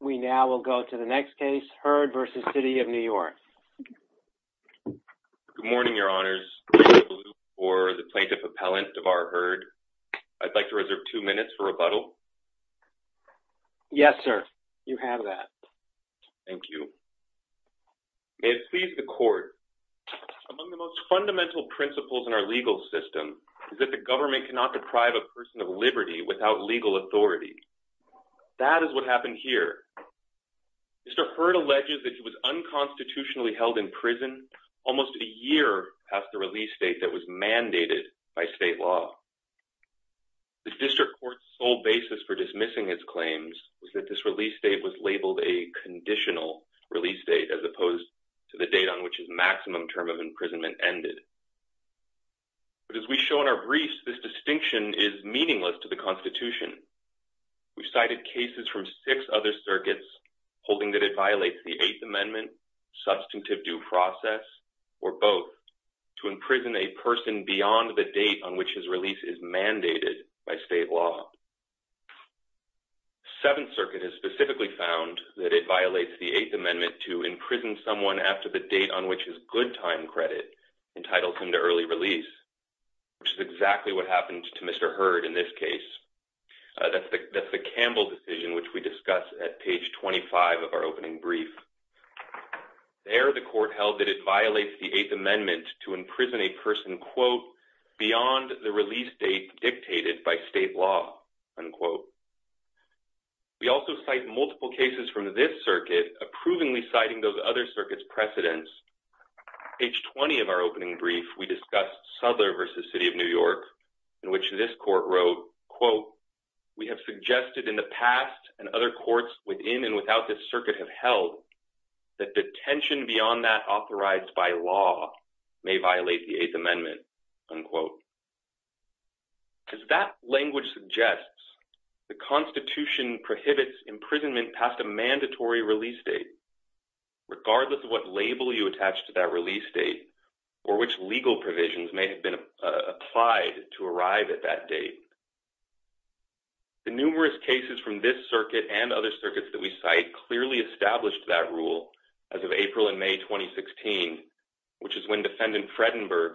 We now will go to the next case, Hurd v. The City of New York. Good morning, Your Honors. Thank you for the plaintiff appellant, DeVar Hurd. I'd like to reserve two minutes for rebuttal. Yes, sir. You have that. Thank you. May it please the Court. Among the most fundamental principles in our legal system is that the government cannot deprive a person of liberty without legal authority. That is what happened here. Mr. Hurd alleges that he was unconstitutionally held in prison almost a year past the release date that was mandated by state law. The district court's sole basis for dismissing his claims was that this release date was labeled a conditional release date as opposed to the date on which his maximum term of imprisonment ended. But as we show in our briefs, this distinction is meaningless to the Constitution. We've cited cases from six other circuits holding that it violates the Eighth Amendment, substantive due process, or both, to imprison a person beyond the date on which his release is mandated by state law. The Seventh Circuit has specifically found that it violates the Eighth Amendment to imprison someone after the date on which his good time credit entitles him to early release, which is exactly what happened to Mr. Hurd in this case. That's the Campbell decision, which we discuss at page 25 of our opening brief. There, the court held that it violates the Eighth Amendment to imprison a person beyond the release date dictated by state law. We also cite multiple cases from this circuit, approvingly citing those other circuits' precedents. Page 20 of our opening brief, we discussed Souther v. City of New York, in which this court wrote, quote, we have suggested in the past and other courts within and without this circuit have held that detention beyond that authorized by law may violate the Eighth Amendment, unquote. As that language suggests, the Constitution prohibits imprisonment past a mandatory release date, regardless of what label you attach to that release date or which legal provisions may have been applied to arrive at that date. The numerous cases from this circuit and other circuits that we cite clearly established that rule as of April and May 2016, which is when Defendant Fredenberg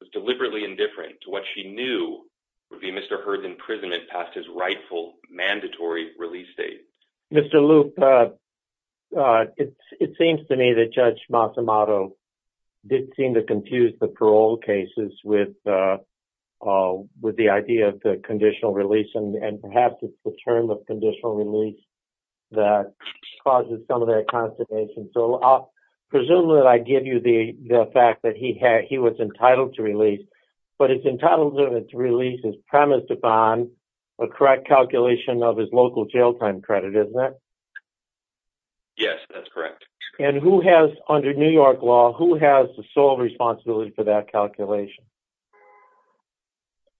was deliberately indifferent to what she knew would be Mr. Hurd's imprisonment past his rightful, mandatory release date. Mr. Loop, it seems to me that Judge Massimato did seem to confuse the parole cases with the idea of the conditional release, and perhaps it's the term of conditional release that causes some of that consternation. So I'll presume that I give you the fact that he was entitled to release, but it's entitlement to release is premised upon a correct calculation of his local jail time credit, isn't it? Yes, that's correct. And who has, under New York law, who has the sole responsibility for that calculation?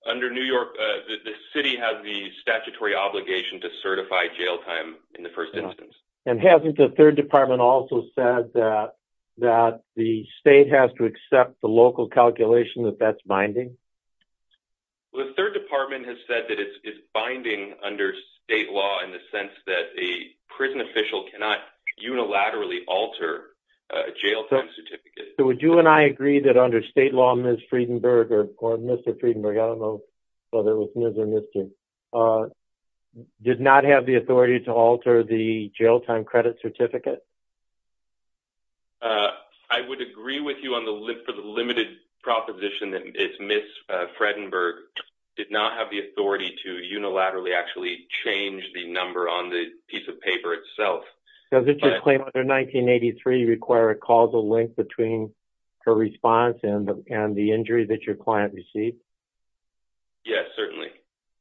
Under New York, the city has the statutory obligation to certify jail time in the first instance. And hasn't the Third Department also said that the state has to binding under state law in the sense that a prison official cannot unilaterally alter a jail time certificate? So would you and I agree that under state law, Ms. Friedenberg or Mr. Friedenberg, I don't know whether it was Ms. or Mr., did not have the authority to alter the jail time credit certificate? I would agree with you on the limited proposition that Ms. Fredenberg did not have the authority to actually unilaterally change the number on the piece of paper itself. Does it just claim under 1983 require a causal link between her response and the injury that your client received? Yes, certainly.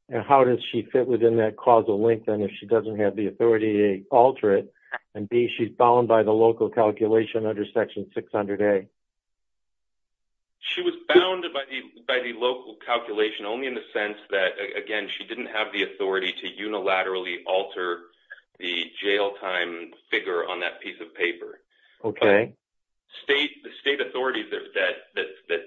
And how does she fit within that causal link then if she doesn't have the authority to alter it? And B, she's bound by the local calculation under section 600A? She was bound by the local calculation only in the sense that, again, she didn't have the authority to unilaterally alter the jail time figure on that piece of paper. State authorities that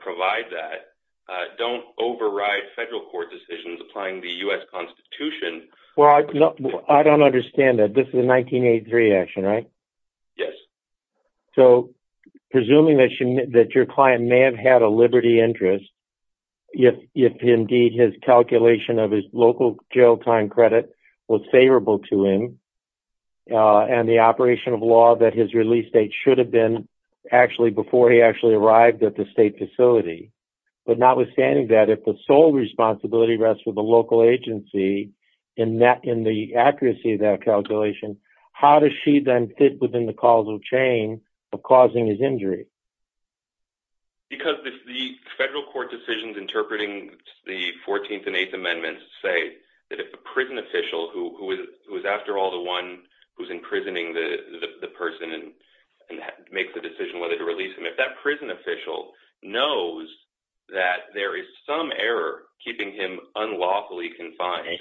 provide that don't override federal court decisions applying the U.S. Constitution. I don't understand that. This is a 1983 action, right? Yes. So presuming that your client may have had a liberty interest if indeed his calculation of his local jail time credit was favorable to him and the operation of law that his release date should have been before he actually arrived at the state facility. But notwithstanding that, if the sole responsibility rests with the local agency in the accuracy of that calculation, how does she then fit within the causal chain of causing his injury? Because the federal court decisions interpreting the 14th and 8th Amendments say that if a prison official who is, after all, the one who's imprisoning the person and makes the decision whether to release him, if that prison official knows that there is some error keeping him unlawfully confined,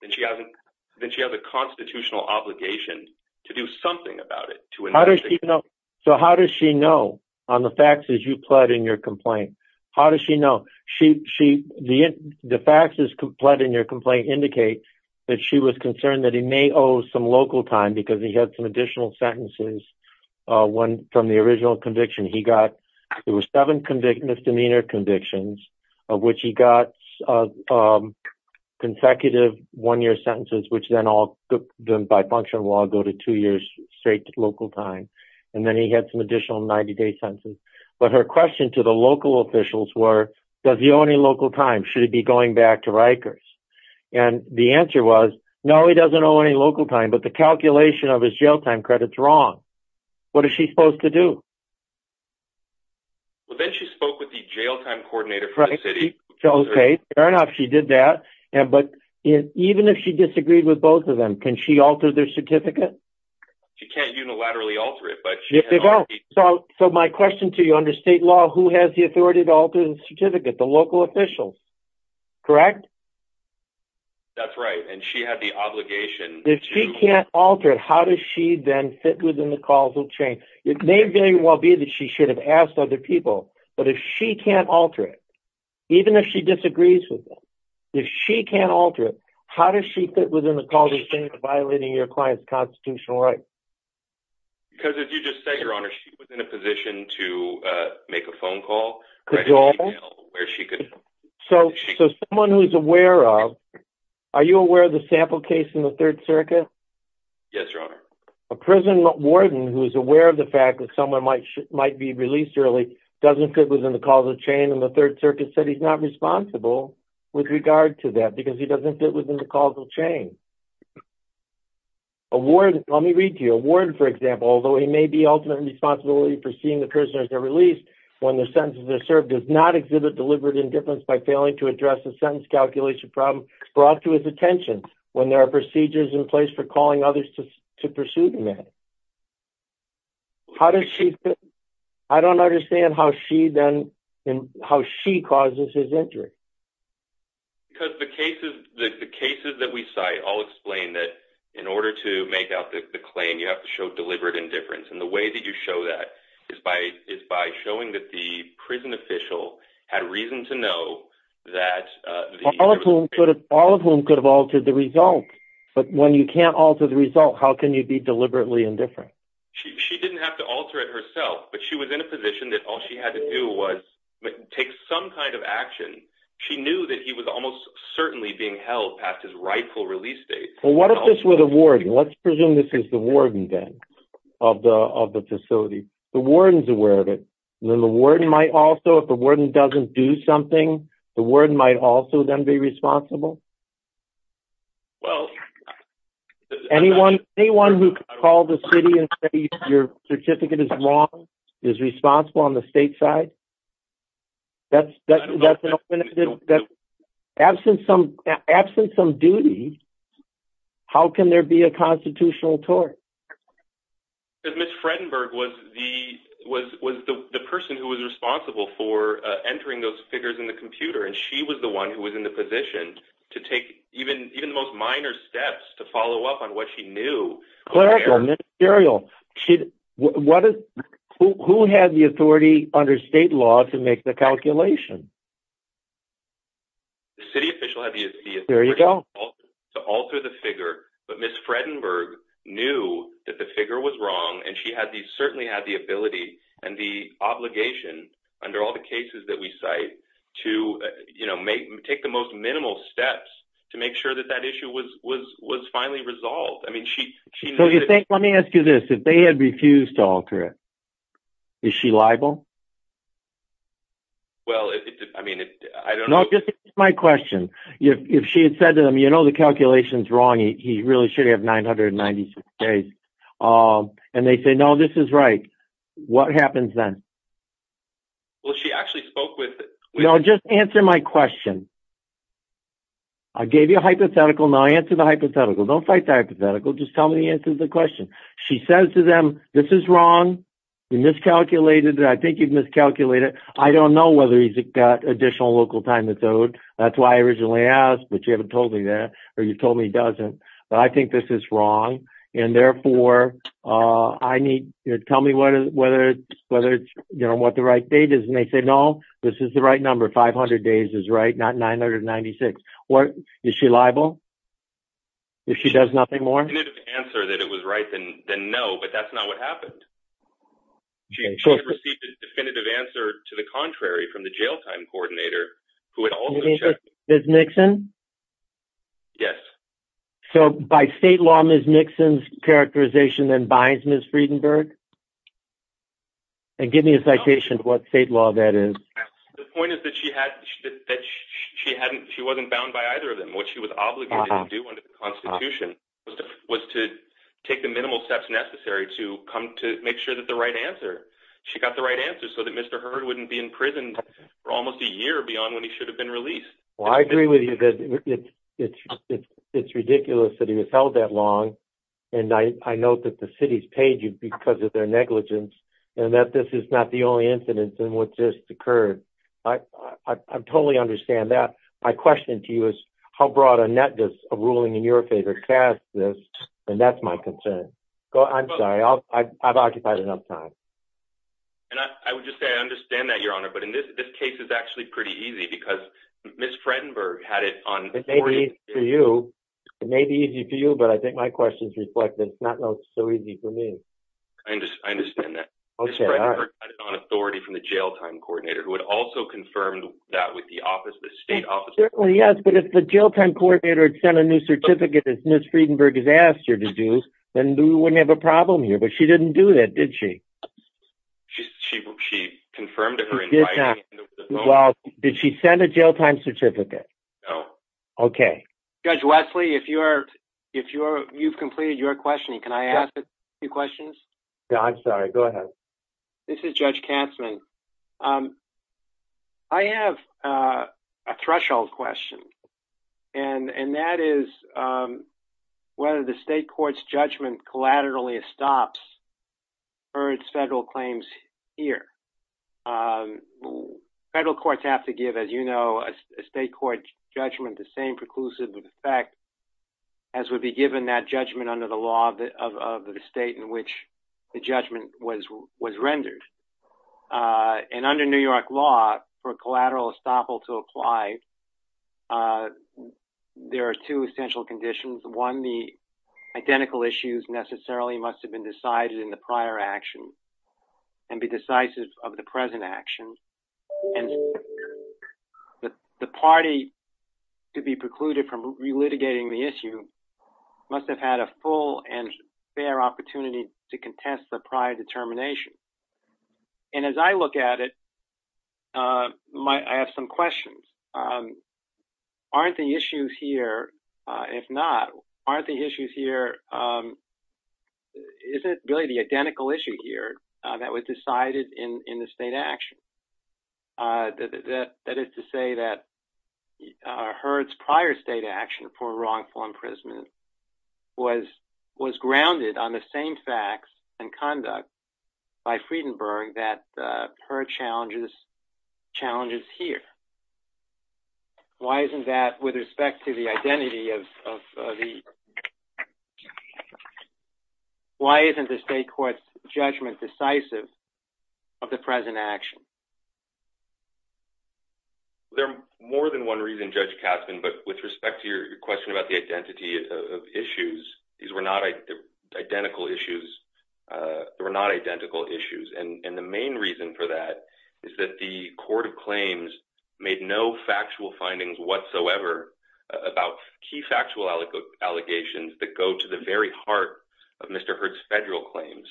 then she has a constitutional obligation to do something about it. So how does she know on the faxes you pled in your complaint? How does she know? The faxes pled in your complaint indicate that she was concerned that he may owe some local time because he had some additional sentences from the original conviction. There were seven misdemeanor convictions of which he got consecutive one-year sentences, which then all by function of law go to two years straight local time. And then he had some additional 90-day sentences. But her question to the local officials were, does he owe any local time? Should he be going back to Rikers? And the answer was, no, he doesn't owe any local time, but the calculation of his jail time credit's wrong. What is she supposed to do? Well, then she spoke with the jail time coordinator from the city. Fair enough, she did that. But even if she disagreed with both of them, can she alter their certificate? She can't unilaterally alter it. So my question to you under state law, who has the authority to alter the certificate? The local officials, correct? That's right, and she had the obligation. If she can't alter it, how does she then fit within the causal chain? It may very asked other people, but if she can't alter it, even if she disagrees with them, if she can't alter it, how does she fit within the causal chain of violating your client's constitutional rights? Because as you just said, your honor, she was in a position to make a phone call. So someone who's aware of, are you aware of the sample case in the third circuit? Yes, your honor. A prison warden who's aware of the fact that someone might be released early doesn't fit within the causal chain and the third circuit said he's not responsible with regard to that because he doesn't fit within the causal chain. A warden, let me read to you. A warden, for example, although he may be ultimately responsible for seeing the prisoners are released when their sentences are served, does not exhibit deliberate indifference by failing to address the sentence calculation problem brought to his attention when there are procedures in place for calling others to pursue the matter. I don't understand how she causes his injury. Because the cases that we cite all explain that in order to make out the claim, you have to show deliberate indifference. And the way that you show that is by showing that the prison official had reason to know that... All of whom could have altered the result, but when you can't alter the result, how can you be deliberately indifferent? She didn't have to alter it herself, but she was in a position that all she had to do was take some kind of action. She knew that he was almost certainly being held past his rightful release date. Well, what if this were the warden? Let's presume this is the warden then of the facility. The warden's aware of it. And then the warden might also, if the warden doesn't do something, the warden might also then be responsible? Well... Anyone who could call the city and say your certificate is wrong is responsible on the state side? That's an open... Absent some duty, how can there be a constitutional tort? Because Ms. Fredenberg was the person who was responsible for entering those figures in the computer, and she was the one who was in the position to take even the most minor steps to follow up on what she knew. Clerical, ministerial. Who had the authority under state law to make the calculation? The city official had the authority to alter the figure, but Ms. Fredenberg knew that the figure was wrong, and she certainly had the ability and the obligation under all the cases that we cite to take the most minimal steps to make sure that that issue was finally resolved. Let me ask you this. If they had refused to alter it, is she liable? Well, I mean... No, this is my question. If she had said to them, you know the calculation's wrong, he really should have 996 days. And they say, no, this is right. What happens then? Well, she actually spoke with... No, just answer my question. I gave you a hypothetical, now answer the hypothetical. Don't fight the hypothetical, just tell me the answer to the question. She says to them, this is wrong. You miscalculated. I think you've miscalculated. I don't know whether he's got additional local time that's owed. That's why I originally asked, but you haven't told me that, or you told me he doesn't. But I think this is wrong. And therefore, tell me what the right date is. And they say, no, this is the right number. 500 days is right, not 996. Is she liable? If she does nothing more? The answer that it was right, then no, but that's not what happened. She received a definitive answer to the contrary from the jail coordinator. Ms. Nixon? Yes. So by state law, Ms. Nixon's characterization then binds Ms. Friedenberg? And give me a citation of what state law that is. The point is that she wasn't bound by either of them. What she was obligated to do under the constitution was to take the minimal steps necessary to come to make sure that the right beyond when he should have been released. Well, I agree with you that it's ridiculous that he was held that long. And I note that the city's paid you because of their negligence and that this is not the only incident in which this occurred. I totally understand that. My question to you is how broad a net does a ruling in your favor cast this? And that's my concern. I'm sorry. I've occupied enough time. And I would just say, I understand that, but in this case, it's actually pretty easy because Ms. Friedenberg had it on. It may be easy for you, but I think my question is reflected. It's not so easy for me. I understand that. Ms. Friedenberg had it on authority from the jail time coordinator who had also confirmed that with the state office. Yes, but if the jail time coordinator had sent a new certificate as Ms. Friedenberg has asked her to do, then we wouldn't have a problem here. But well, did she send a jail time certificate? No. Okay. Judge Wesley, if you've completed your questioning, can I ask a few questions? No, I'm sorry. Go ahead. This is Judge Katzmann. I have a threshold question. And that is whether the state court's judgment collaterally stops or its federal claims here. Federal courts have to give, as you know, a state court judgment, the same preclusive effect as would be given that judgment under the law of the state in which the judgment was rendered. And under New York law for collateral estoppel to apply, there are two essential conditions. One, the identical issues necessarily must have been decided in the prior action and be decisive of the present action. And the party to be precluded from relitigating the issue must have had a full and fair opportunity to contest the prior determination. And as I look at it, I have some questions. Aren't the issues here, if not, aren't the issues here, is it really the identical issue here that was decided in the state action? That is to say that Herd's prior state action for wrongful imprisonment was grounded on the same facts and conduct by Friedenberg that Herd challenges here. Why isn't that with respect to identity of the, why isn't the state court's judgment decisive of the present action? There are more than one reason, Judge Katzmann, but with respect to your question about the identity of issues, these were not identical issues. They were not identical issues. And the main reason for that is that the court of claims made no factual findings whatsoever about key factual allegations that go to the very heart of Mr. Herd's federal claims.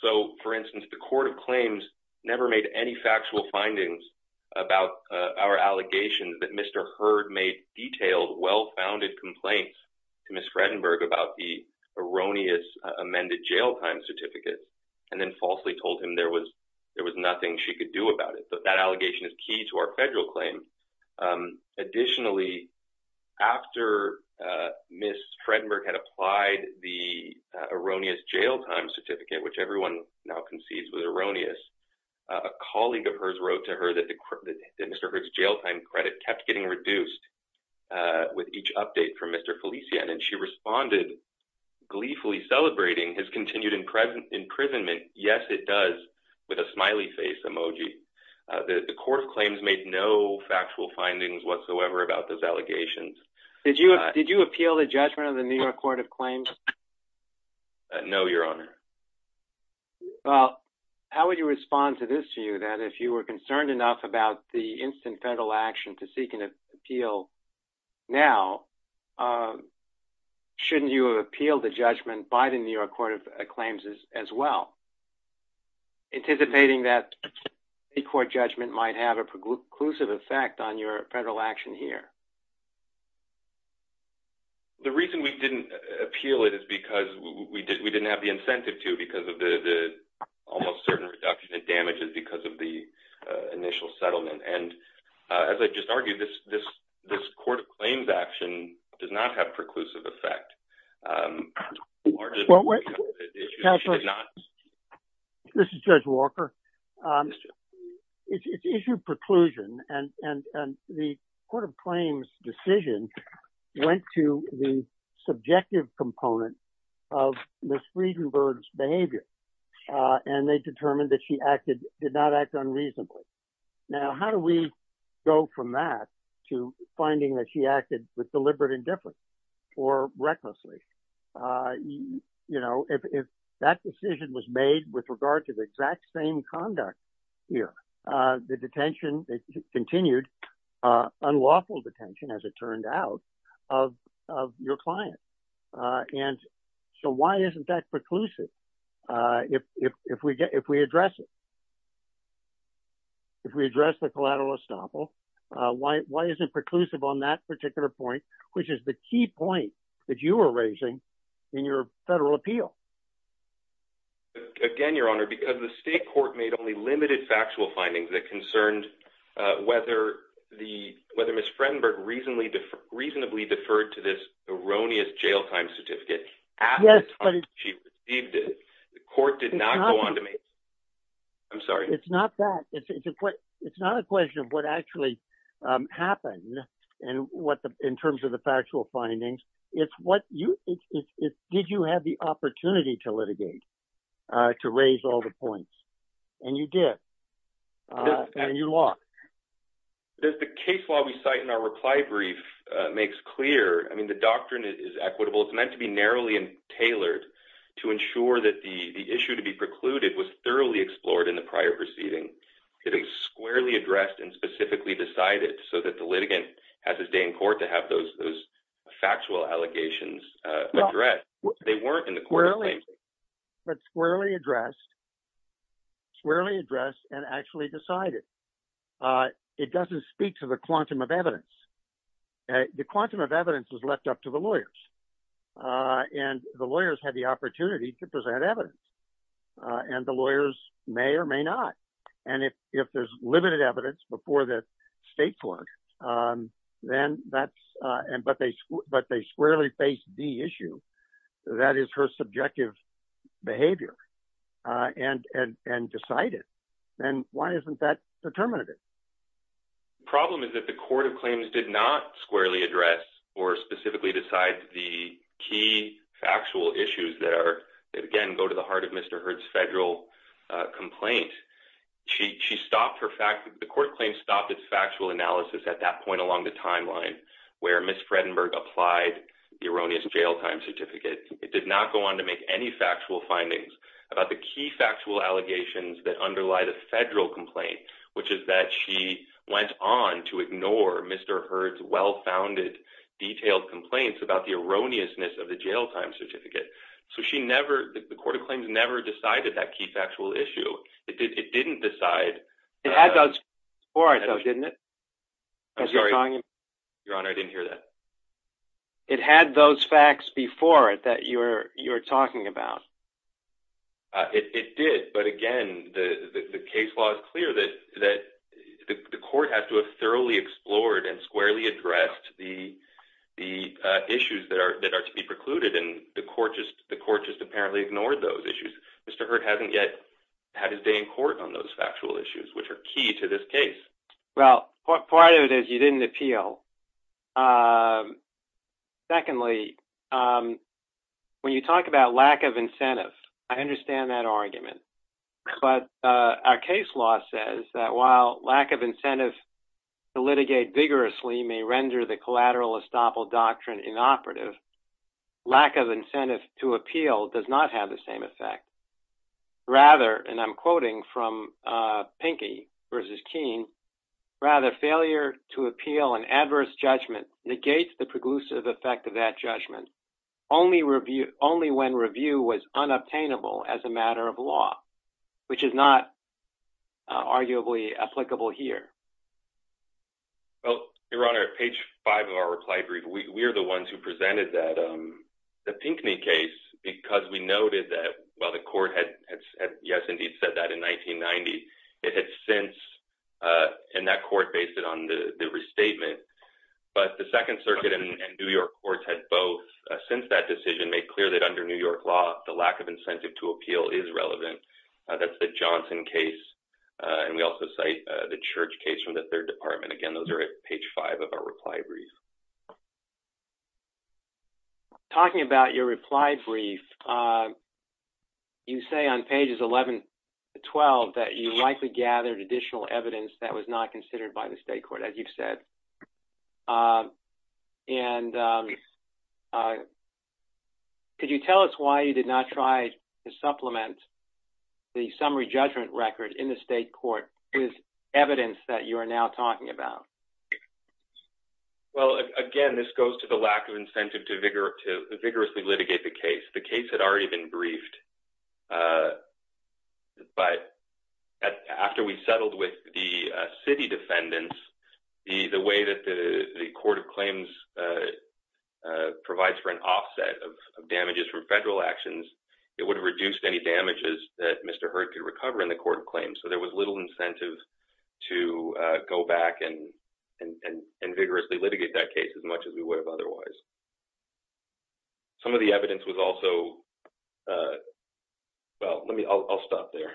So, for instance, the court of claims never made any factual findings about our allegations that Mr. Herd made detailed, well-founded complaints to Ms. Friedenberg about the erroneous amended jail time certificate and then falsely told him there was nothing she could do about it. That allegation is key to our federal claim. Additionally, after Ms. Friedenberg had applied the erroneous jail time certificate, which everyone now concedes was erroneous, a colleague of hers wrote to her that Mr. Herd's jail time credit kept getting reduced with each update from Mr. Felicien and she responded, gleefully celebrating his continued imprisonment. Yes, it does, with a smiley face emoji. The court of claims made no factual findings whatsoever about those allegations. Did you appeal the judgment of the New York Court of Claims? No, Your Honor. Well, how would you respond to this view that if you were concerned enough about the instant federal action to seek an appeal now, shouldn't you have appealed the judgment by the New York Court of Claims as well, anticipating that a court judgment might have a preclusive effect on your federal action here? The reason we didn't appeal it is because we didn't have the incentive to because of the almost certain reduction in damages because of the initial settlement. And as I just argued, this court of claims action does not have preclusive effect. Um, this is Judge Walker. Um, it's issued preclusion and, and, and the court of claims decision went to the subjective component of Ms. Friedenberg's behavior. Uh, and they determined that she acted, did not act unreasonably. Now, how do we go from that to finding that she acted with deliberate indifference or recklessly? Uh, you know, if, if that decision was made with regard to the exact same conduct here, uh, the detention continued, uh, unlawful detention, as it turned out of, of your client. Uh, and so why isn't that preclusive? Uh, if, if, if we get, if we address it, if we address the collateral estoppel, uh, why, why isn't preclusive on that point, which is the key point that you were raising in your federal appeal? Again, your honor, because the state court made only limited factual findings that concerned, uh, whether the, whether Ms. Friedenberg reasonably, reasonably deferred to this erroneous jail time certificate at the time she received it, the court did not go on to make. I'm sorry. It's not that it's, it's, it's, it's not a question of what actually, um, happened and what the, in terms of the factual findings, it's what you, it's, it's, it's, did you have the opportunity to litigate, uh, to raise all the points and you did, uh, and you lost. There's the case law we cite in our reply brief, uh, makes clear. I mean, the doctrine is equitable. It's meant to be narrowly and tailored to ensure that the, the issue to be precluded was thoroughly explored in the prior proceeding. It was squarely addressed and specifically decided so that the litigant has his day in court to have those, those factual allegations, uh, addressed. They weren't in the court. But squarely addressed, squarely addressed and actually decided, uh, it doesn't speak to the quantum of evidence. The quantum of evidence was left up to the lawyers. Uh, and the lawyers had the opportunity to present evidence, uh, and the lawyers may or may not. And if, if there's limited evidence before the state court, um, then that's, uh, and, but they, but they squarely face the issue that is her subjective behavior, uh, and, and, and decided, then why isn't that determinative? The problem is that the court of claims did not squarely address or specifically decide the key factual issues that are, that again, go to the heart of Mr. Hurd's federal, uh, complaint. She, she stopped her fact, the court claims stopped its factual analysis at that point along the timeline where Ms. Fredenberg applied the erroneous jail time certificate. It did not go on to make any factual findings about the key factual allegations that detailed complaints about the erroneousness of the jail time certificate. So she never, the court of claims never decided that key factual issue. It did. It didn't decide or I thought, didn't it? I'm sorry. Your honor. I didn't hear that. It had those facts before it, that you're, you're talking about. Uh, it, it did. But again, the, the, the case law is clear that, that the court has to have explored and squarely addressed the, the, uh, issues that are, that are to be precluded. And the court just, the court just apparently ignored those issues. Mr. Hurd hasn't yet had his day in court on those factual issues, which are key to this case. Well, part of it is you didn't appeal. Um, secondly, um, when you talk about lack of incentive, I understand that argument, but, uh, our case law says that while lack of incentive to litigate vigorously may render the collateral estoppel doctrine inoperative, lack of incentive to appeal does not have the same effect rather. And I'm quoting from, uh, Pinky versus Keene rather failure to appeal an adverse judgment negates the preclusive effect of that judgment. Only review, only when review was unobtainable as a matter of principle. Well, Your Honor, at page five of our reply brief, we, we are the ones who presented that, um, the Pinkney case, because we noted that while the court had yes, indeed said that in 1990, it had since, uh, and that court based it on the restatement, but the second circuit and New York courts had both since that decision made clear that under New York law, the lack of incentive to appeal is relevant. Uh, that's the Johnson case. Uh, and we also cite, uh, the Church case from the third department. Again, those are at page five of our reply brief. Talking about your reply brief, uh, you say on pages 11 to 12, that you likely gathered additional evidence that was not considered by the state court, as you've said. Um, and, um, uh, could you tell us why you did not try to supplement the summary judgment record in the state court with evidence that you are now talking about? Well, again, this goes to the lack of incentive to vigor, to vigorously litigate the case. The case had already been briefed, uh, but after we settled with the, uh, city defendants, the, the way that the, the court of claims, uh, uh, provides for an offset of, of damages from federal actions, it would have reduced any damages that Mr. Hurd could recover in the court of claims. So there was little incentive to, uh, go back and, and, and vigorously litigate that case as much as we would have otherwise. Some of the evidence was also, uh, well, let me, I'll, I'll stop there.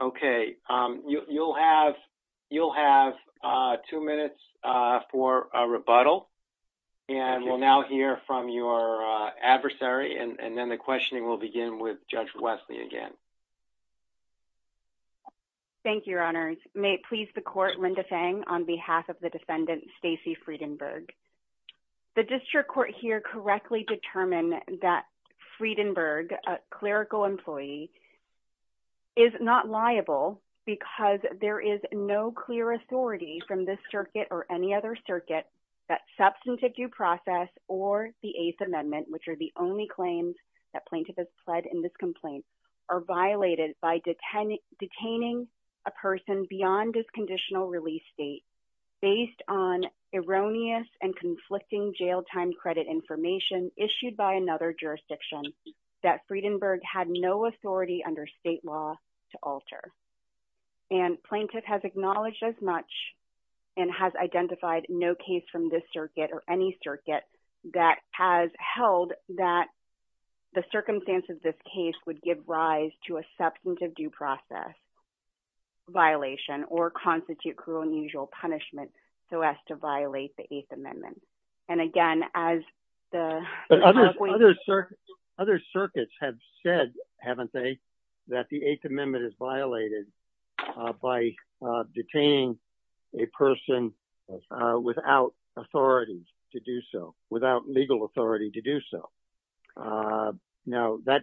Okay. Um, you, you'll have, you'll have, uh, two minutes, uh, for a rebuttal and we'll now hear from your, uh, adversary and then the questioning will begin with Judge Wesley again. Thank you, Your Honors. May it please the court, Linda Fang on behalf of the defendant, Stacey Friedenberg. The district court here correctly determined that Friedenberg, a clerical employee, is not liable because there is no clear authority from this circuit or any other circuit that substantive due process or the eighth amendment, which are the only claims that plaintiff has pled in this complaint, are violated by detaining, detaining a person beyond this conditional release date based on erroneous and conflicting jail time credit information issued by another jurisdiction that Friedenberg had no authority under state law to alter. And plaintiff has acknowledged as much and has identified no case from this circuit or any circuit that has held that the circumstances of this case would give rise to a substantive due process violation or constitute cruel and unusual punishment so as to violate the eighth amendment. And again, as the other circuits have said, haven't they, that the eighth amendment is violated by detaining a person without authority to do so, without legal authority to do so. Now, that,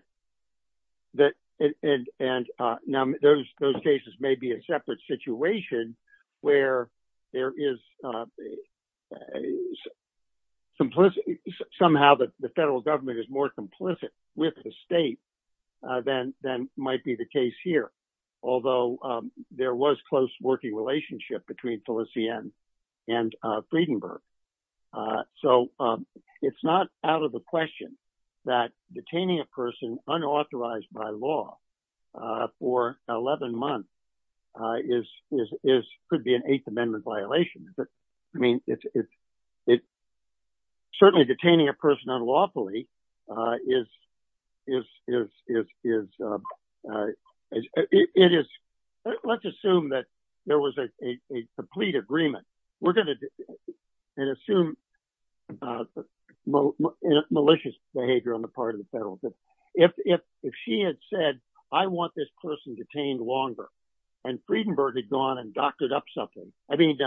that, and, and now those, those cases may be a separate situation where there is some, somehow the federal government is more complicit with the state than, than might be the case here. Although there was close working relationship between Felicien and Friedenberg. So it's not out of the question that detaining a person unauthorized by law for 11 months is, is, is, could be an eighth amendment violation. I mean, it's, it's, certainly detaining a person unlawfully is, is, is, is, is, it is, let's assume that there was a, a, a complete agreement. We're going to, and assume malicious behavior on the part of the federal government. If, if, if she had said, I want this person detained longer and Friedenberg had gone and doctored up something, I mean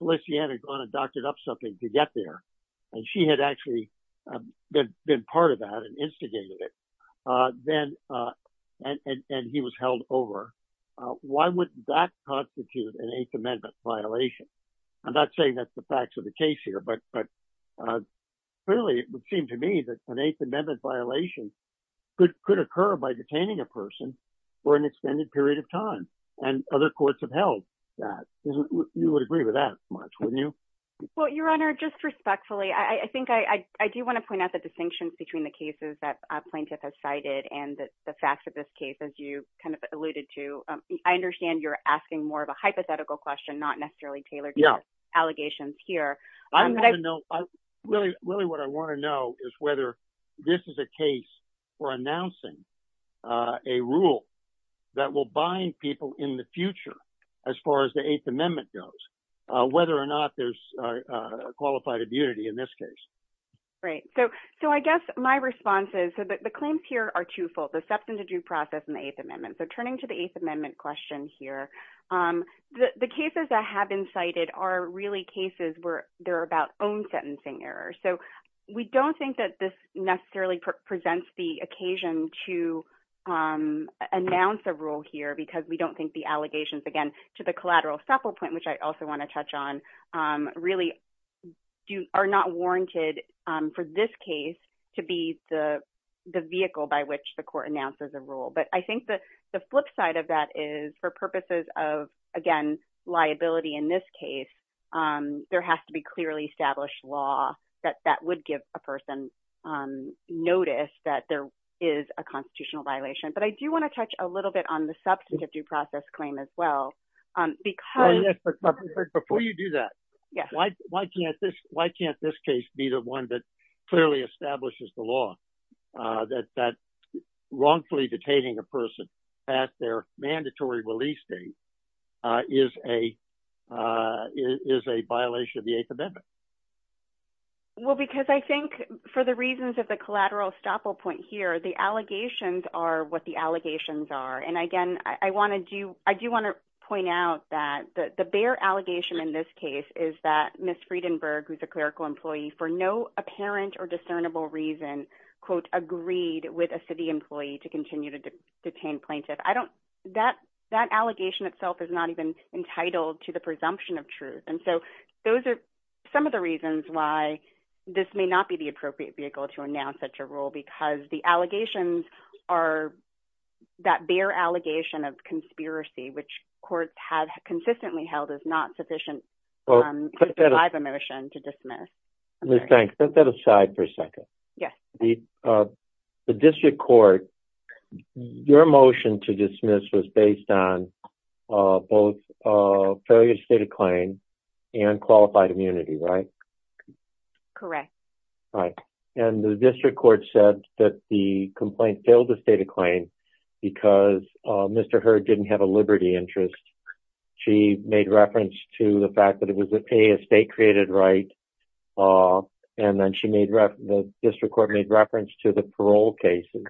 Felicien had gone and doctored up something to get there and she had actually been, been part of that and instigated it. Then, and, and, and he was held over. Why would that constitute an eighth amendment violation? I'm not saying that's the facts of the case here, but, but clearly it would seem to me that an eighth amendment violation could, could occur by detaining a person for an extended period of time and other courts have held that. You would agree with that much, wouldn't you? Well, your honor, just respectfully, I think I, I do want to point out the distinctions between the cases that plaintiff has cited and the fact that this case, as you kind of alluded to, I understand you're asking more of a hypothetical question, not necessarily tailored to the allegations here. I want to know, really, really what I want to know is whether this is a case for announcing a rule that will bind people in the future as far as the eighth amendment goes, whether or not there's a qualified immunity in this case. Right. So, so I guess my response is that the claims here are twofold. The process and the eighth amendment. So turning to the eighth amendment question here the cases that have been cited are really cases where they're about own sentencing errors. So we don't think that this necessarily presents the occasion to announce a rule here because we don't think the allegations again to the collateral supple point, which I also want to touch on really do are not warranted for this case to be the vehicle by which the court announces a rule. But I think that the flip side of that is for purposes of, again, liability in this case, there has to be clearly established law that that would give a person notice that there is a constitutional violation. But I do want to touch a little bit on the substantive due to that. Why can't this case be the one that clearly establishes the law that wrongfully detaining a person at their mandatory release date is a violation of the eighth amendment? Well, because I think for the reasons of the collateral supple point here, the allegations are what the allegations are. And again, I want to do I do want to point out that the bear allegation in this case is that Miss Friedenberg, who's a clerical employee for no apparent or discernible reason, quote, agreed with a city employee to continue to detain plaintiff. I don't that that allegation itself is not even entitled to the presumption of truth. And so those are some of the reasons why this may not be the appropriate vehicle to announce such a rule, because the allegations are that bear allegation of conspiracy, which courts have consistently held is not sufficient. I have a motion to dismiss. Thanks. Set that aside for a second. Yes. The district court, your motion to dismiss was based on both failure to state a claim and qualified immunity, right? Correct. Right. And the district court said that the complaint failed to state a claim because Mr. Heard didn't have a liberty interest. She made reference to the fact that it was a state created right. And then she made the district court made reference to the parole cases.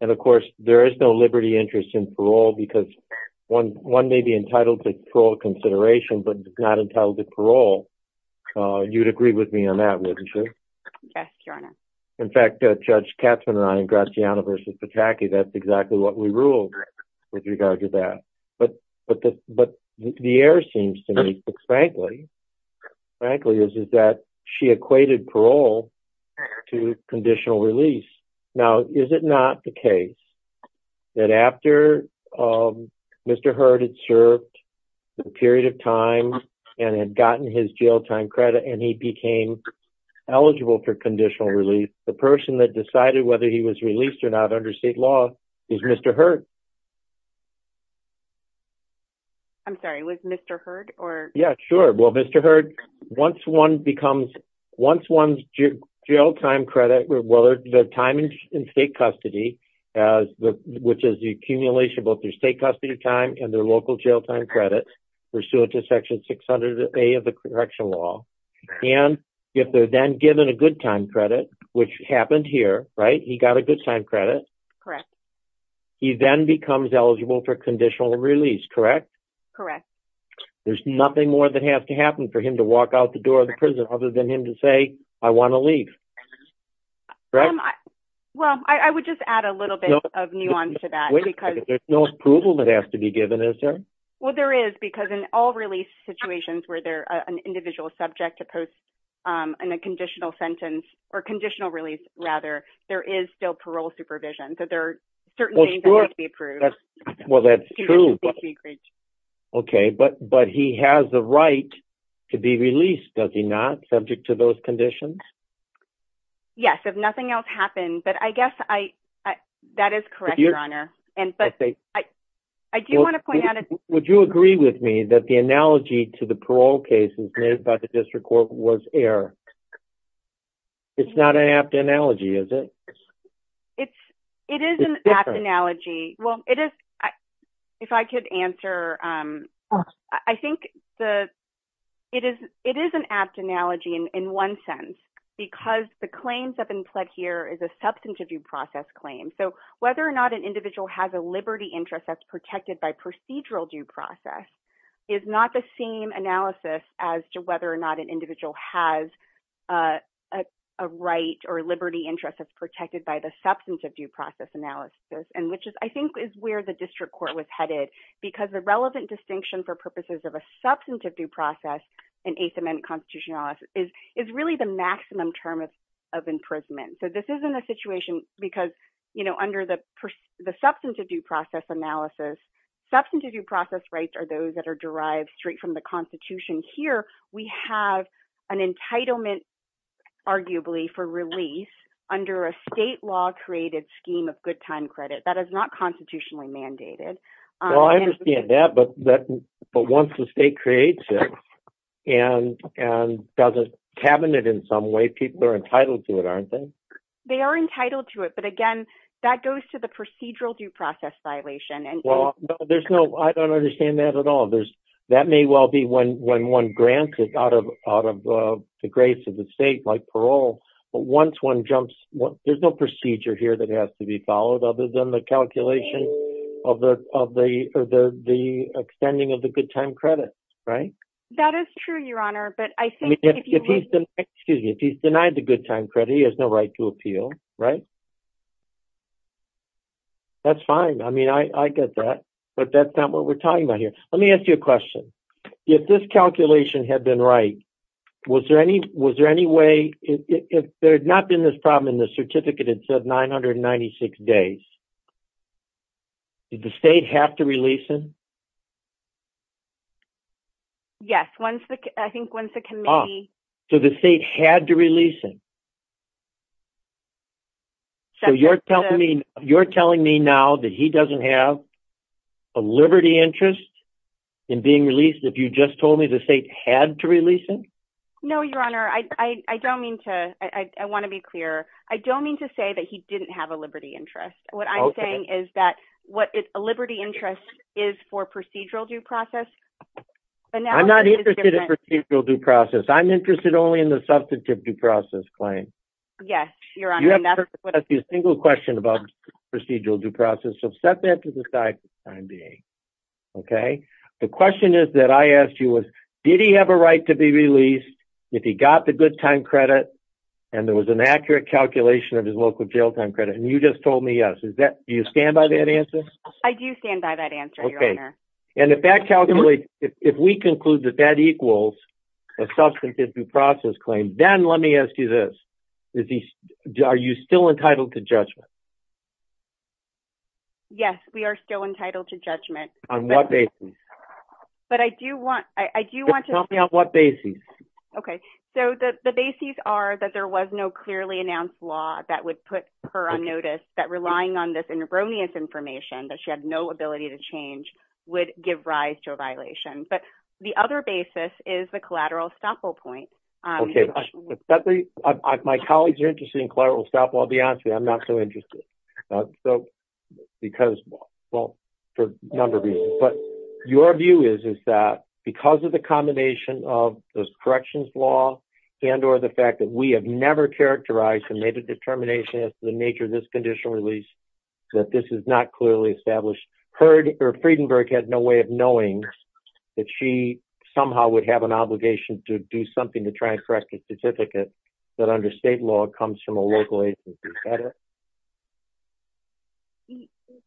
And of course, there is no liberty interest in parole because one one may be entitled to parole consideration, but not until the parole. You'd agree with me on that, wouldn't you? Yes, Your Honor. In fact, Judge Katzmann and I and Graziano versus Pataki, that's exactly what we ruled with regard to that. But but but the air seems to me, frankly, frankly, is that she equated parole to conditional release. Now, is it not the and he became eligible for conditional release? The person that decided whether he was released or not under state law is Mr. Heard. I'm sorry, it was Mr. Heard or Yeah, sure. Well, Mr. Heard, once one becomes once one's jail time credit, whether the time in state custody, as the which is the accumulation of both their state custody of time and their local jail time credit pursuant to section 600, a of the correctional law. And if they're then given a good time credit, which happened here, right, he got a good time credit, correct? He then becomes eligible for conditional release, correct? Correct. There's nothing more that has to happen for him to walk out the door of the prison other than him to say, I want to leave. Well, I would just add a little bit of nuance to that. Because there's no approval that has to be given. Is there? Well, there is because in all released situations where they're an individual subject to post and a conditional sentence, or conditional release, rather, there is still parole supervision. So there are certain things approved. Well, that's true. Okay, but but he has the right to be released, does he not subject to those conditions? Yes, if nothing else happened, but I guess I, that is correct, and I do want to point out, would you agree with me that the analogy to the parole cases made by the district court was error? It's not an apt analogy, is it? It's, it is an apt analogy. Well, it is. If I could answer, I think the, it is, it is an apt analogy in one sense, because the claims that have been pled here is a substantive due process claim. So whether or not an individual has a liberty interest that's protected by procedural due process is not the same analysis as to whether or not an individual has a right or liberty interest that's protected by the substantive due process analysis. And which is, I think, is where the district court was headed. Because the relevant distinction for purposes of a substantive due process in eighth amendment constitutional analysis is, is really the maximum term of imprisonment. So this isn't a situation, because, you know, under the, the substantive due process analysis, substantive due process rights are those that are derived straight from the Constitution. Here, we have an entitlement, arguably, for release under a state law created scheme of good time credit that is not constitutionally mandated. Well, I understand that, but that, but once the state creates it, and, and does a cabinet in some way, people are entitled to it, aren't they? They are entitled to it. But again, that goes to the procedural due process violation. And well, there's no, I don't understand that at all. There's, that may well be when, when one grants it out of, out of the grace of the state, like parole. But once one jumps, there's no procedure here that has to be followed other than the calculation of the, of the, the extending of the good time credit, right? That is true, Your Honor. But I think, excuse me, if he's denied the good time credit, he has no right to appeal, right? That's fine. I mean, I get that. But that's not what we're talking about here. Let me ask you a question. If this calculation had been right, was there any, was there any way if there had not been this problem, and the certificate had said 996 days, did the state have to release him? Yes, once the, I think once the committee... So the state had to release him. So you're telling me, you're telling me now that he doesn't have a liberty interest in being released? If you just told me the state had to release him? No, Your Honor. I don't mean to, I want to be clear. I don't mean to say that he didn't have a liberty interest. What I'm saying is that what is a liberty interest is for procedural due process. But now... I'm not interested in procedural due process. I'm interested only in the substantive due process claim. Yes, Your Honor. You haven't asked me a single question about procedural due process. So set that to the side for the time being. Okay? The question is I asked you was, did he have a right to be released if he got the good time credit and there was an accurate calculation of his local jail time credit? And you just told me yes. Is that, do you stand by that answer? I do stand by that answer, Your Honor. Okay. And if that calculation, if we conclude that that equals a substantive due process claim, then let me ask you this. Are you still entitled to judgment? Yes, we are still entitled to judgment. On what basis? But I do want, I do want to... Tell me on what basis. Okay. So the basis are that there was no clearly announced law that would put her on notice that relying on this erroneous information that she had no ability to change would give rise to a violation. But the other basis is the collateral estoppel point. Okay. My colleagues are interested in collateral estoppel. I'll be honest with you, I'm not so interested. So because, well, for a number of reasons, but your view is, is that because of the combination of those corrections law and, or the fact that we have never characterized and made a determination as to the nature of this conditional release, that this is not clearly established. Her, Friedenberg had no way of knowing that she somehow would have an obligation to do something to try and correct a certificate that under state law comes from a local agency.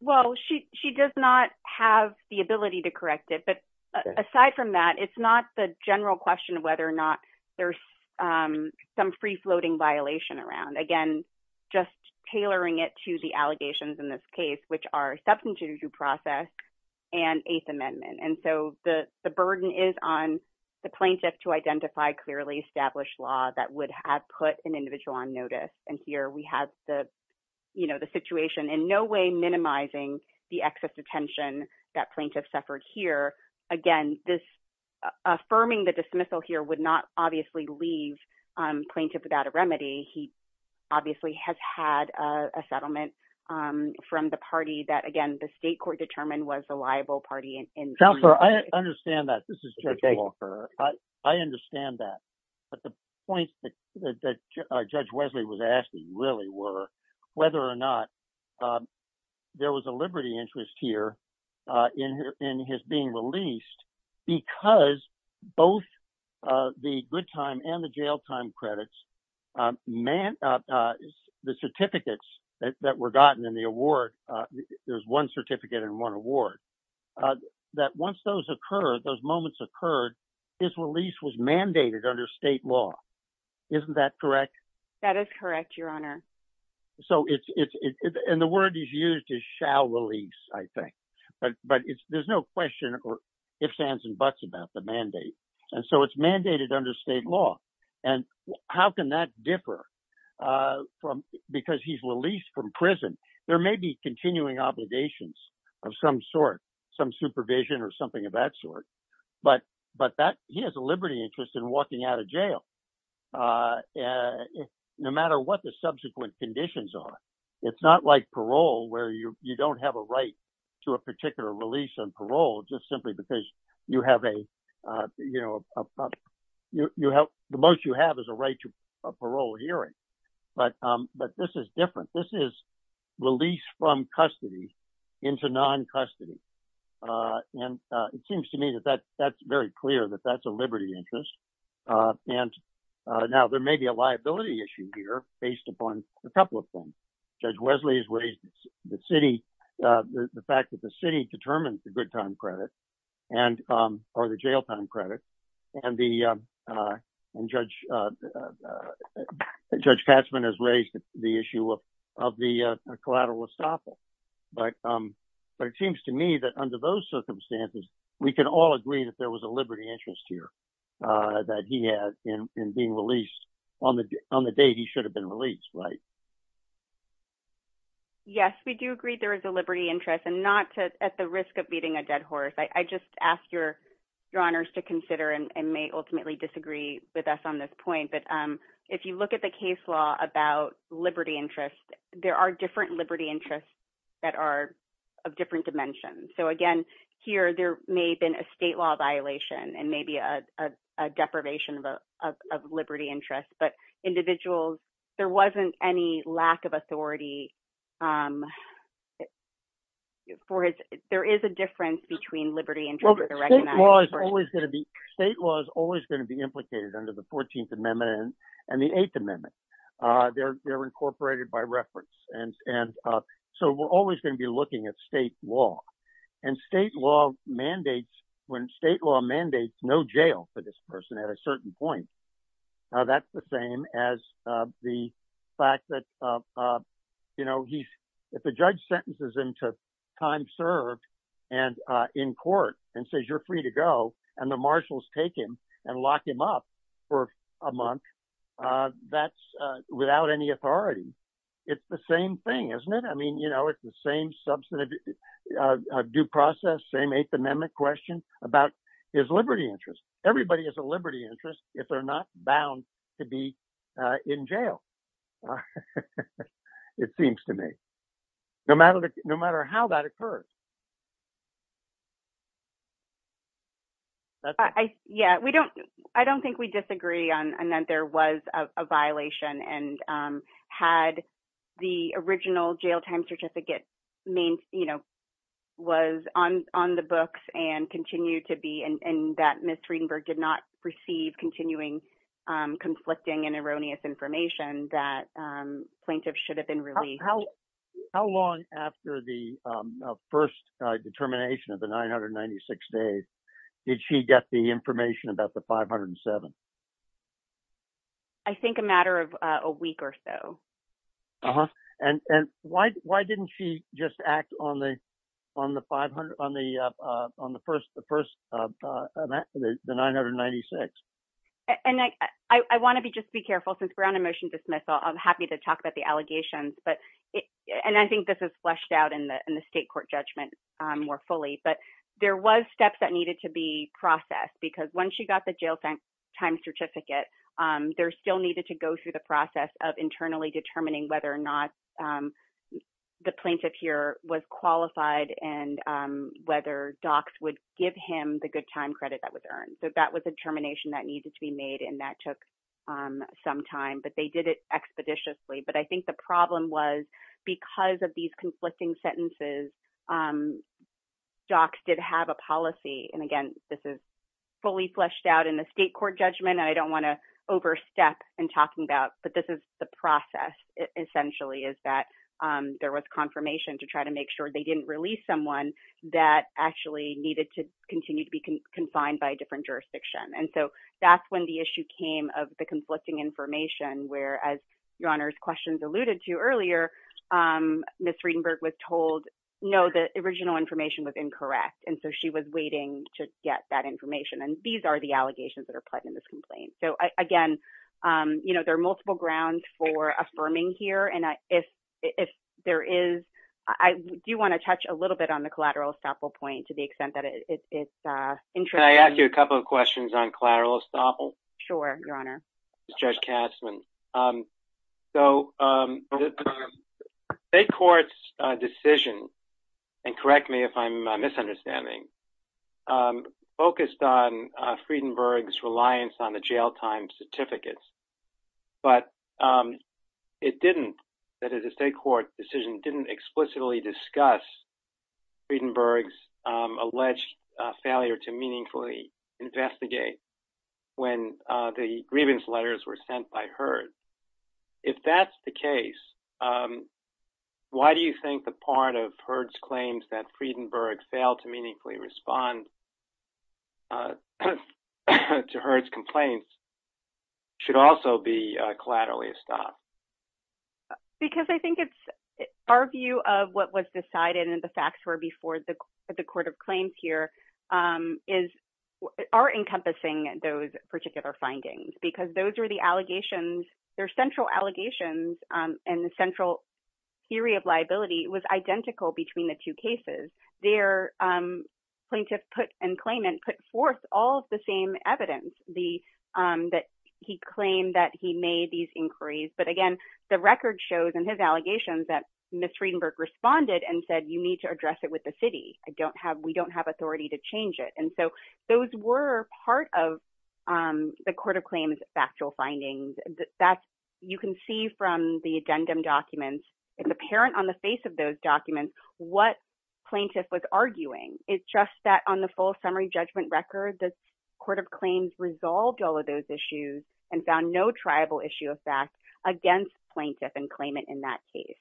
Well, she, she does not have the ability to correct it, but aside from that, it's not the general question of whether or not there's some free floating violation around, again, just tailoring it to the allegations in this case, which are substantive due process and eighth amendment. And so the burden is on the plaintiff to identify clearly established law that would have put an individual on notice. And here we have the, you know, the situation in no way minimizing the excess attention that plaintiff suffered here. Again, this affirming the dismissal here would not obviously leave plaintiff without a remedy. He obviously has had a settlement from the party that again, the state court determined was the liable party. Counselor, I understand that. This is Judge Walker. I understand that. But the point that Judge Wesley was asking really were whether or not there was a liberty interest here in his being released because both the good time and the jail time credits, the certificates that were gotten in the award, there's one certificate and one award. That once those occur, those moments occurred, his release was mandated under state law. Isn't that correct? That is correct, Your Honor. So it's, and the word is used to shall release, I think. But there's no question or ifs, ands, and buts about the mandate. And so it's mandated under state law. And how can that differ from because he's released from prison? There may be continuing obligations of some sort, some supervision or something of that sort. But that he has a liberty interest in walking out of jail. No matter what the subsequent conditions are. It's not like parole, where you don't have a right to a particular release on parole, just simply because you have a, you know, you have the most you have is a right to parole hearing. But, but this is different. This is released from custody into non custody. And it seems to me that that that's very clear that that's a liberty interest. And now there may be a liability issue here based upon a couple of them. Judge Wesley's raised the city, the fact that the city determines the good time credit, and or the jail time credit. And the judge, Judge Katzmann has raised the issue of the collateral estoppel. But, but it seems to me that under those circumstances, we can all agree that there was a liberty interest here that he had in being released on the on the day he should have been released, right? Yes, we do agree there is a liberty interest and not to at the risk of beating a dead horse. I just ask your, your honors to consider and may ultimately disagree with us on this point. But if you look at the case law about liberty interest, there are different liberty interests that are of different dimensions. So again, here, there may have been a state law violation, and maybe a deprivation of liberty interest, but individuals, there wasn't any lack of authority. For it, there is a difference between liberty and state law is always going to be implicated under the 14th Amendment and the Eighth Amendment. They're incorporated by reference. And so we're always going to be looking at state law. And state law mandates when state law mandates no jail for this person at a certain point. Now, that's the same as the fact that, you know, he's, if the judge sentences him to time served, and in court and says, you're free to go, and the marshals take him and lock him up for a month. That's without any authority. It's the same thing, isn't it? I mean, you know, it's the same substantive due process, same Eighth Amendment question about his liberty interest. Everybody has a liberty interest, if they're not bound to be in jail. It seems to me, no matter how that occurs. Yeah, we don't, I don't think we disagree on that there was a violation and had the original jail time certificate main, you know, was on on the books and continue to be and that Mr. Greenberg did not receive continuing, conflicting and erroneous information that plaintiff should have been released. How long after the first determination of the 996 days? Did she get the information about the 507? I think a matter of a week or so. And why didn't she just act on the on the 500 on the on the first the first of the 996? And I want to be just be careful since we're on a motion dismissal, I'm happy to talk about the allegations. But it and I think this is fleshed out in the in the state court judgment more fully, but there was steps that needed to be processed. Because once you got the jail time certificate, there still needed to go through the process of internally determining whether or not the plaintiff here was qualified and whether docs would give him the good time credit that was earned. So that was a determination that needed to be made. And that took some time, but they did it docs did have a policy. And again, this is fully fleshed out in the state court judgment. I don't want to overstep and talking about but this is the process essentially is that there was confirmation to try to make sure they didn't release someone that actually needed to continue to be confined by different jurisdiction. And so that's when the issue came of the conflicting information where as your honors questions alluded to earlier, Miss Friedenberg was told, no, the original information was incorrect. And so she was waiting to get that information. And these are the allegations that are put in this complaint. So again, you know, there are multiple grounds for affirming here. And if, if there is, I do want to touch a little bit on the collateral estoppel point to the extent that it's interesting. I asked you a couple of questions on collateral estoppel. Sure, Your Honor. Judge Kastman. So the state court's decision, and correct me if I'm misunderstanding, focused on Friedenberg's reliance on the jail time certificates. But it didn't, that is a state court decision didn't explicitly discuss Friedenberg's alleged failure to respond to Herd's complaints. If that's the case, why do you think the part of Herd's claims that Friedenberg failed to meaningfully respond to Herd's complaints should also be collaterally estopped? Because I think it's our view of what was decided and the facts were before the allegations. Their central allegations and the central theory of liability was identical between the two cases. Their plaintiff put and claimant put forth all the same evidence that he claimed that he made these inquiries. But again, the record shows in his allegations that Ms. Friedenberg responded and said, you need to address it with the city. I don't have, we don't have authority to change it. And so those were part of the court of claims factual findings. That's, you can see from the addendum documents, it's apparent on the face of those documents, what plaintiff was arguing. It's just that on the full summary judgment record, the court of claims resolved all of those issues and found no triable issue of fact against plaintiff and claimant in that case.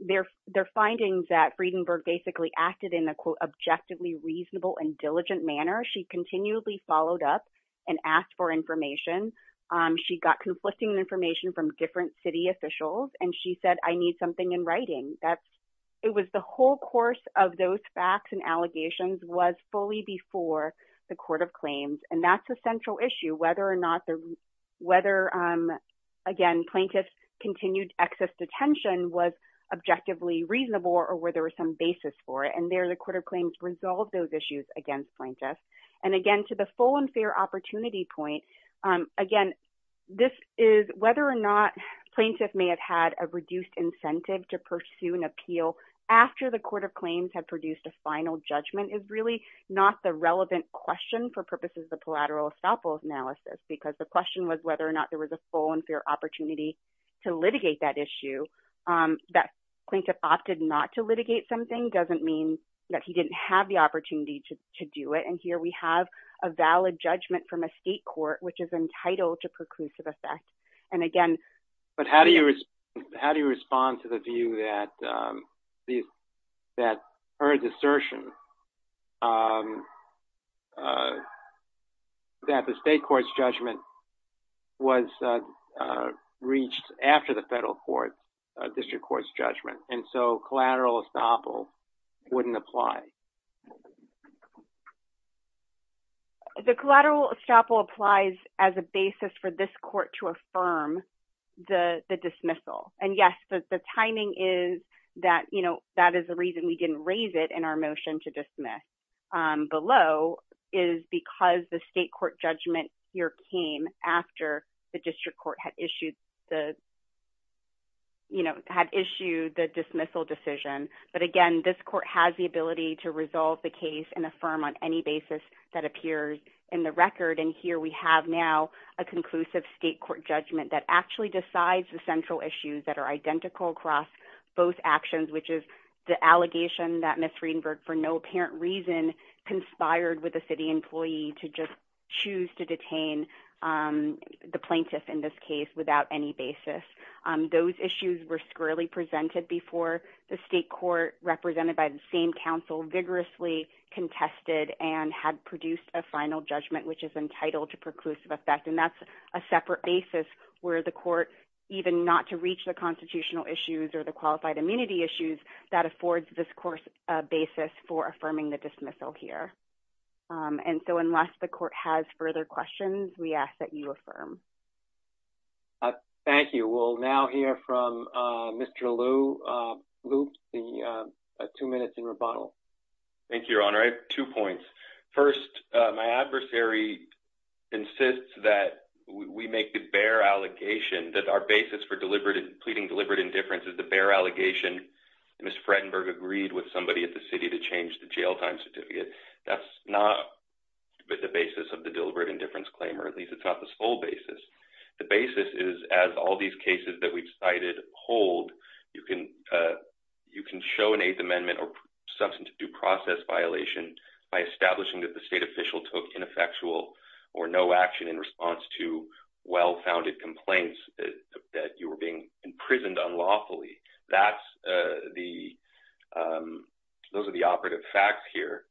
Their findings that Friedenberg basically acted in a quote, objectively reasonable and diligent manner. She continually followed up and asked for information. She got conflicting information from different city officials. And she said, I need something in writing. That's, it was the whole course of those facts and allegations was fully before the court of claims. And that's a central issue, whether or not the, whether again, plaintiff's continued excess detention was objectively reasonable or where there was some basis for it. And there, the court of claims resolved those issues against plaintiffs. And again, to the full and fair opportunity point, again, this is whether or not plaintiff may have had a reduced incentive to pursue an appeal after the court of claims had produced a final judgment is really not the relevant question for collateral estoppel analysis, because the question was whether or not there was a full and fair opportunity to litigate that issue. That plaintiff opted not to litigate something doesn't mean that he didn't have the opportunity to do it. And here we have a valid judgment from a state court, which is entitled to preclusive effect. And again, but how do you, how do you that the state court's judgment was reached after the federal court, a district court's judgment. And so collateral estoppel wouldn't apply. The collateral estoppel applies as a basis for this court to affirm the dismissal. And yes, the timing is that, you know, that is the reason we didn't raise it in our motion to dismiss below is because the state court judgment here came after the district court had issued the, you know, had issued the dismissal decision. But again, this court has the ability to resolve the case and affirm on any basis that appears in the record. And here we have now a conclusive state court judgment that actually decides the central issues that are identical across both actions, which is the allegation that Ms. Friedenberg for no apparent reason conspired with a city employee to just choose to detain the plaintiff in this case without any basis. Those issues were squarely presented before the state court represented by the same council vigorously contested and had produced a final judgment, which is entitled to preclusive effect. And that's a separate basis where the court even not to reach the constitutional issues or the qualified immunity issues that affords this course a basis for affirming the dismissal here. And so unless the court has further questions, we ask that you affirm. Thank you. We'll now hear from Mr. Liu, two minutes in rebuttal. Thank you, Your Honor. I have two points. First, my adversary insists that we make the bare allegation that our basis for deliberate and pleading deliberate indifference is the bare allegation. Ms. Friedenberg agreed with somebody at the city to change the jail time certificate. That's not the basis of the deliberate indifference claim, or at least it's not the sole basis. The basis is as all these cases that we've cited hold, you can show an Eighth Amendment or due process violation by establishing that the state official took ineffectual or no action in response to well-founded complaints that you were being imprisoned unlawfully. Those are the operative facts here.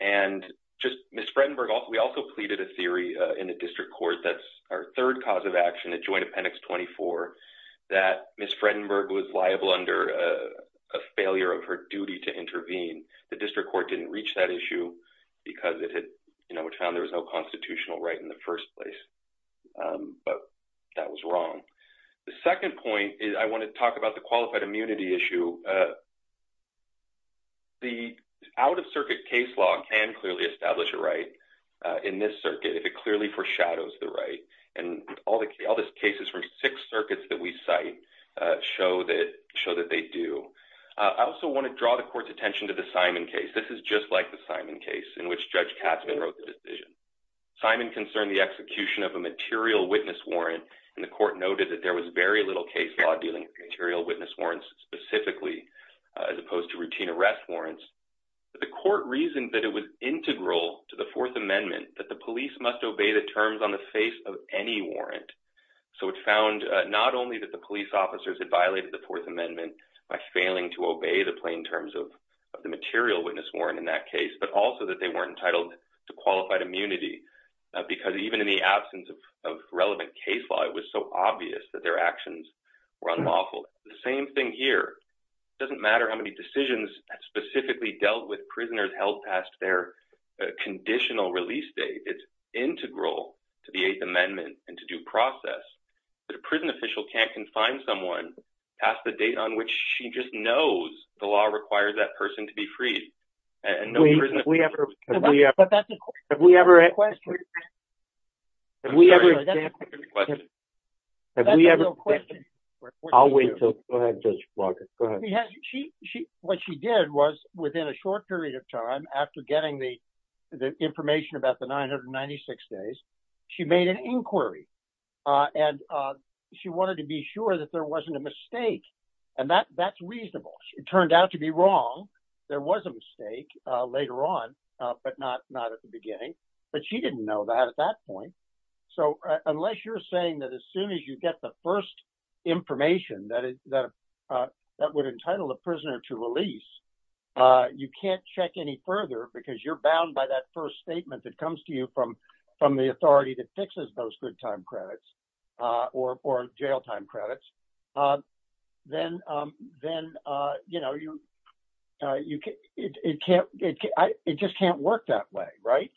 And just Ms. Friedenberg, we also pleaded a theory in the district court that's our third cause of action, a joint appendix 24, that Ms. Friedenberg was liable under a failure of her duty to intervene. The district court didn't reach that issue because it had found there was no constitutional right in the first place. But that was wrong. The second point is I want to talk about the qualified immunity issue. The out-of-circuit case law can clearly establish a right in this circuit if it clearly foreshadows the right. And all these cases from six circuits that we cite show that they do. I also want to draw the court's attention to the Simon case. This is just like the Simon case in which Judge Katzman wrote the decision. Simon concerned the execution of a material witness warrant, and the court noted that there was very little case law dealing with material witness warrants specifically as opposed to routine arrest warrants. But the court reasoned that it was integral to the Fourth Amendment that the police must obey the terms on the face of any warrant. So it found not only that the police officers had violated the Fourth Amendment by failing to obey the plain terms of the material witness warrant in that case, but also that they weren't entitled to qualified immunity because even in the absence of relevant case law, it was so obvious that their actions were unlawful. The same thing here. It doesn't matter how many decisions specifically dealt with prisoners held past their conditional release date. It's integral to the Eighth Amendment and to due process that a prison official can't confine someone past the date on which she just knows the law requires that person to be freed. No, we haven't. We haven't. We haven't. We haven't. She did was within a short period of time after getting the information about the 996 days, she made an inquiry. And she wanted to be sure that there wasn't a mistake. And that's reasonable. It turned out to be wrong. There was a mistake later on, but not at the beginning. But she didn't know that at that point. So unless you're saying that as soon as you get the first information that would entitle the prisoner to release, you can't check any further because you're bound by that first statement that comes to you from the authority that then, then, you know, you, you can't, it just can't work that way, right?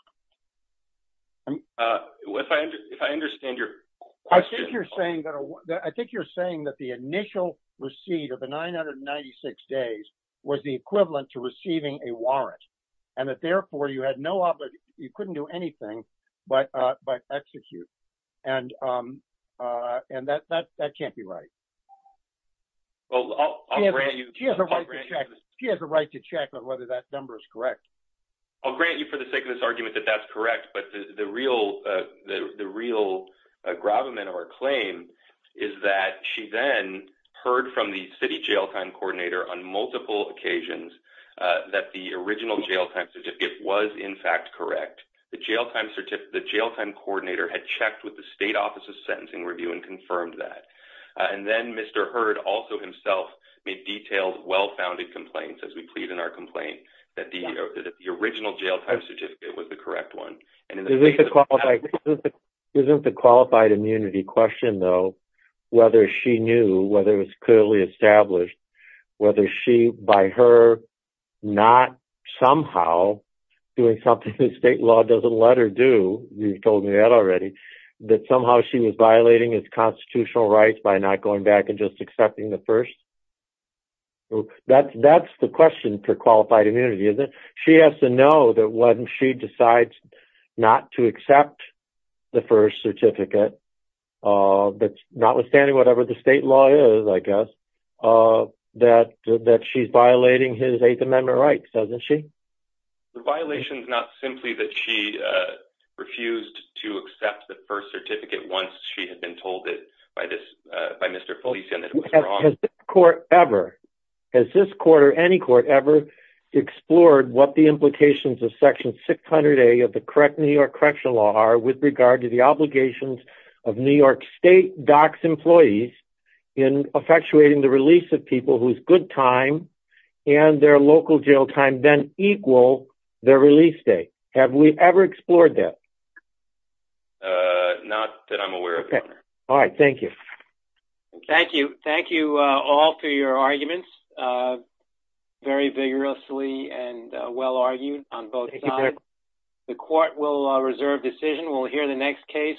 If I understand your question, you're saying that I think you're saying that the initial receipt of the 996 days was the equivalent to receiving a warrant, and that therefore, you had no obligation, you couldn't do anything, but, but execute. And, and that that that can't be right. She has a right to check. She has a right to check on whether that number is correct. I'll grant you for the sake of this argument that that's correct. But the real, the real gravamen of our claim is that she then heard from the city jail time coordinator on multiple occasions that the original jail time certificate was in fact, correct. The jail time certificate, the jail time coordinator had checked with the state office of sentencing review and confirmed that. And then Mr. Heard also himself made detailed, well-founded complaints as we plead in our complaint that the original jail time certificate was the correct one. Isn't the qualified immunity question though, whether she knew whether it was clearly established, whether she, by her not somehow doing something that state law doesn't let her do, you've told rights by not going back and just accepting the first. That's, that's the question for qualified immunity, isn't it? She has to know that when she decides not to accept the first certificate, but notwithstanding whatever the state law is, I guess, that, that she's violating his eighth amendment rights, doesn't she? The violation is not simply that she refused to accept the first certificate once she had told it by this, by Mr. Felician that it was wrong. Has this court ever, has this court or any court ever explored what the implications of section 600A of the correct New York correction law are with regard to the obligations of New York state docs employees in effectuating the release of people whose good time and their local jail time then equal their release date. Have we ever explored that? Uh, not that I'm aware of. All right. Thank you. Thank you. Thank you all for your arguments, uh, very vigorously and well argued on both sides. The court will reserve decision. We'll hear the next case.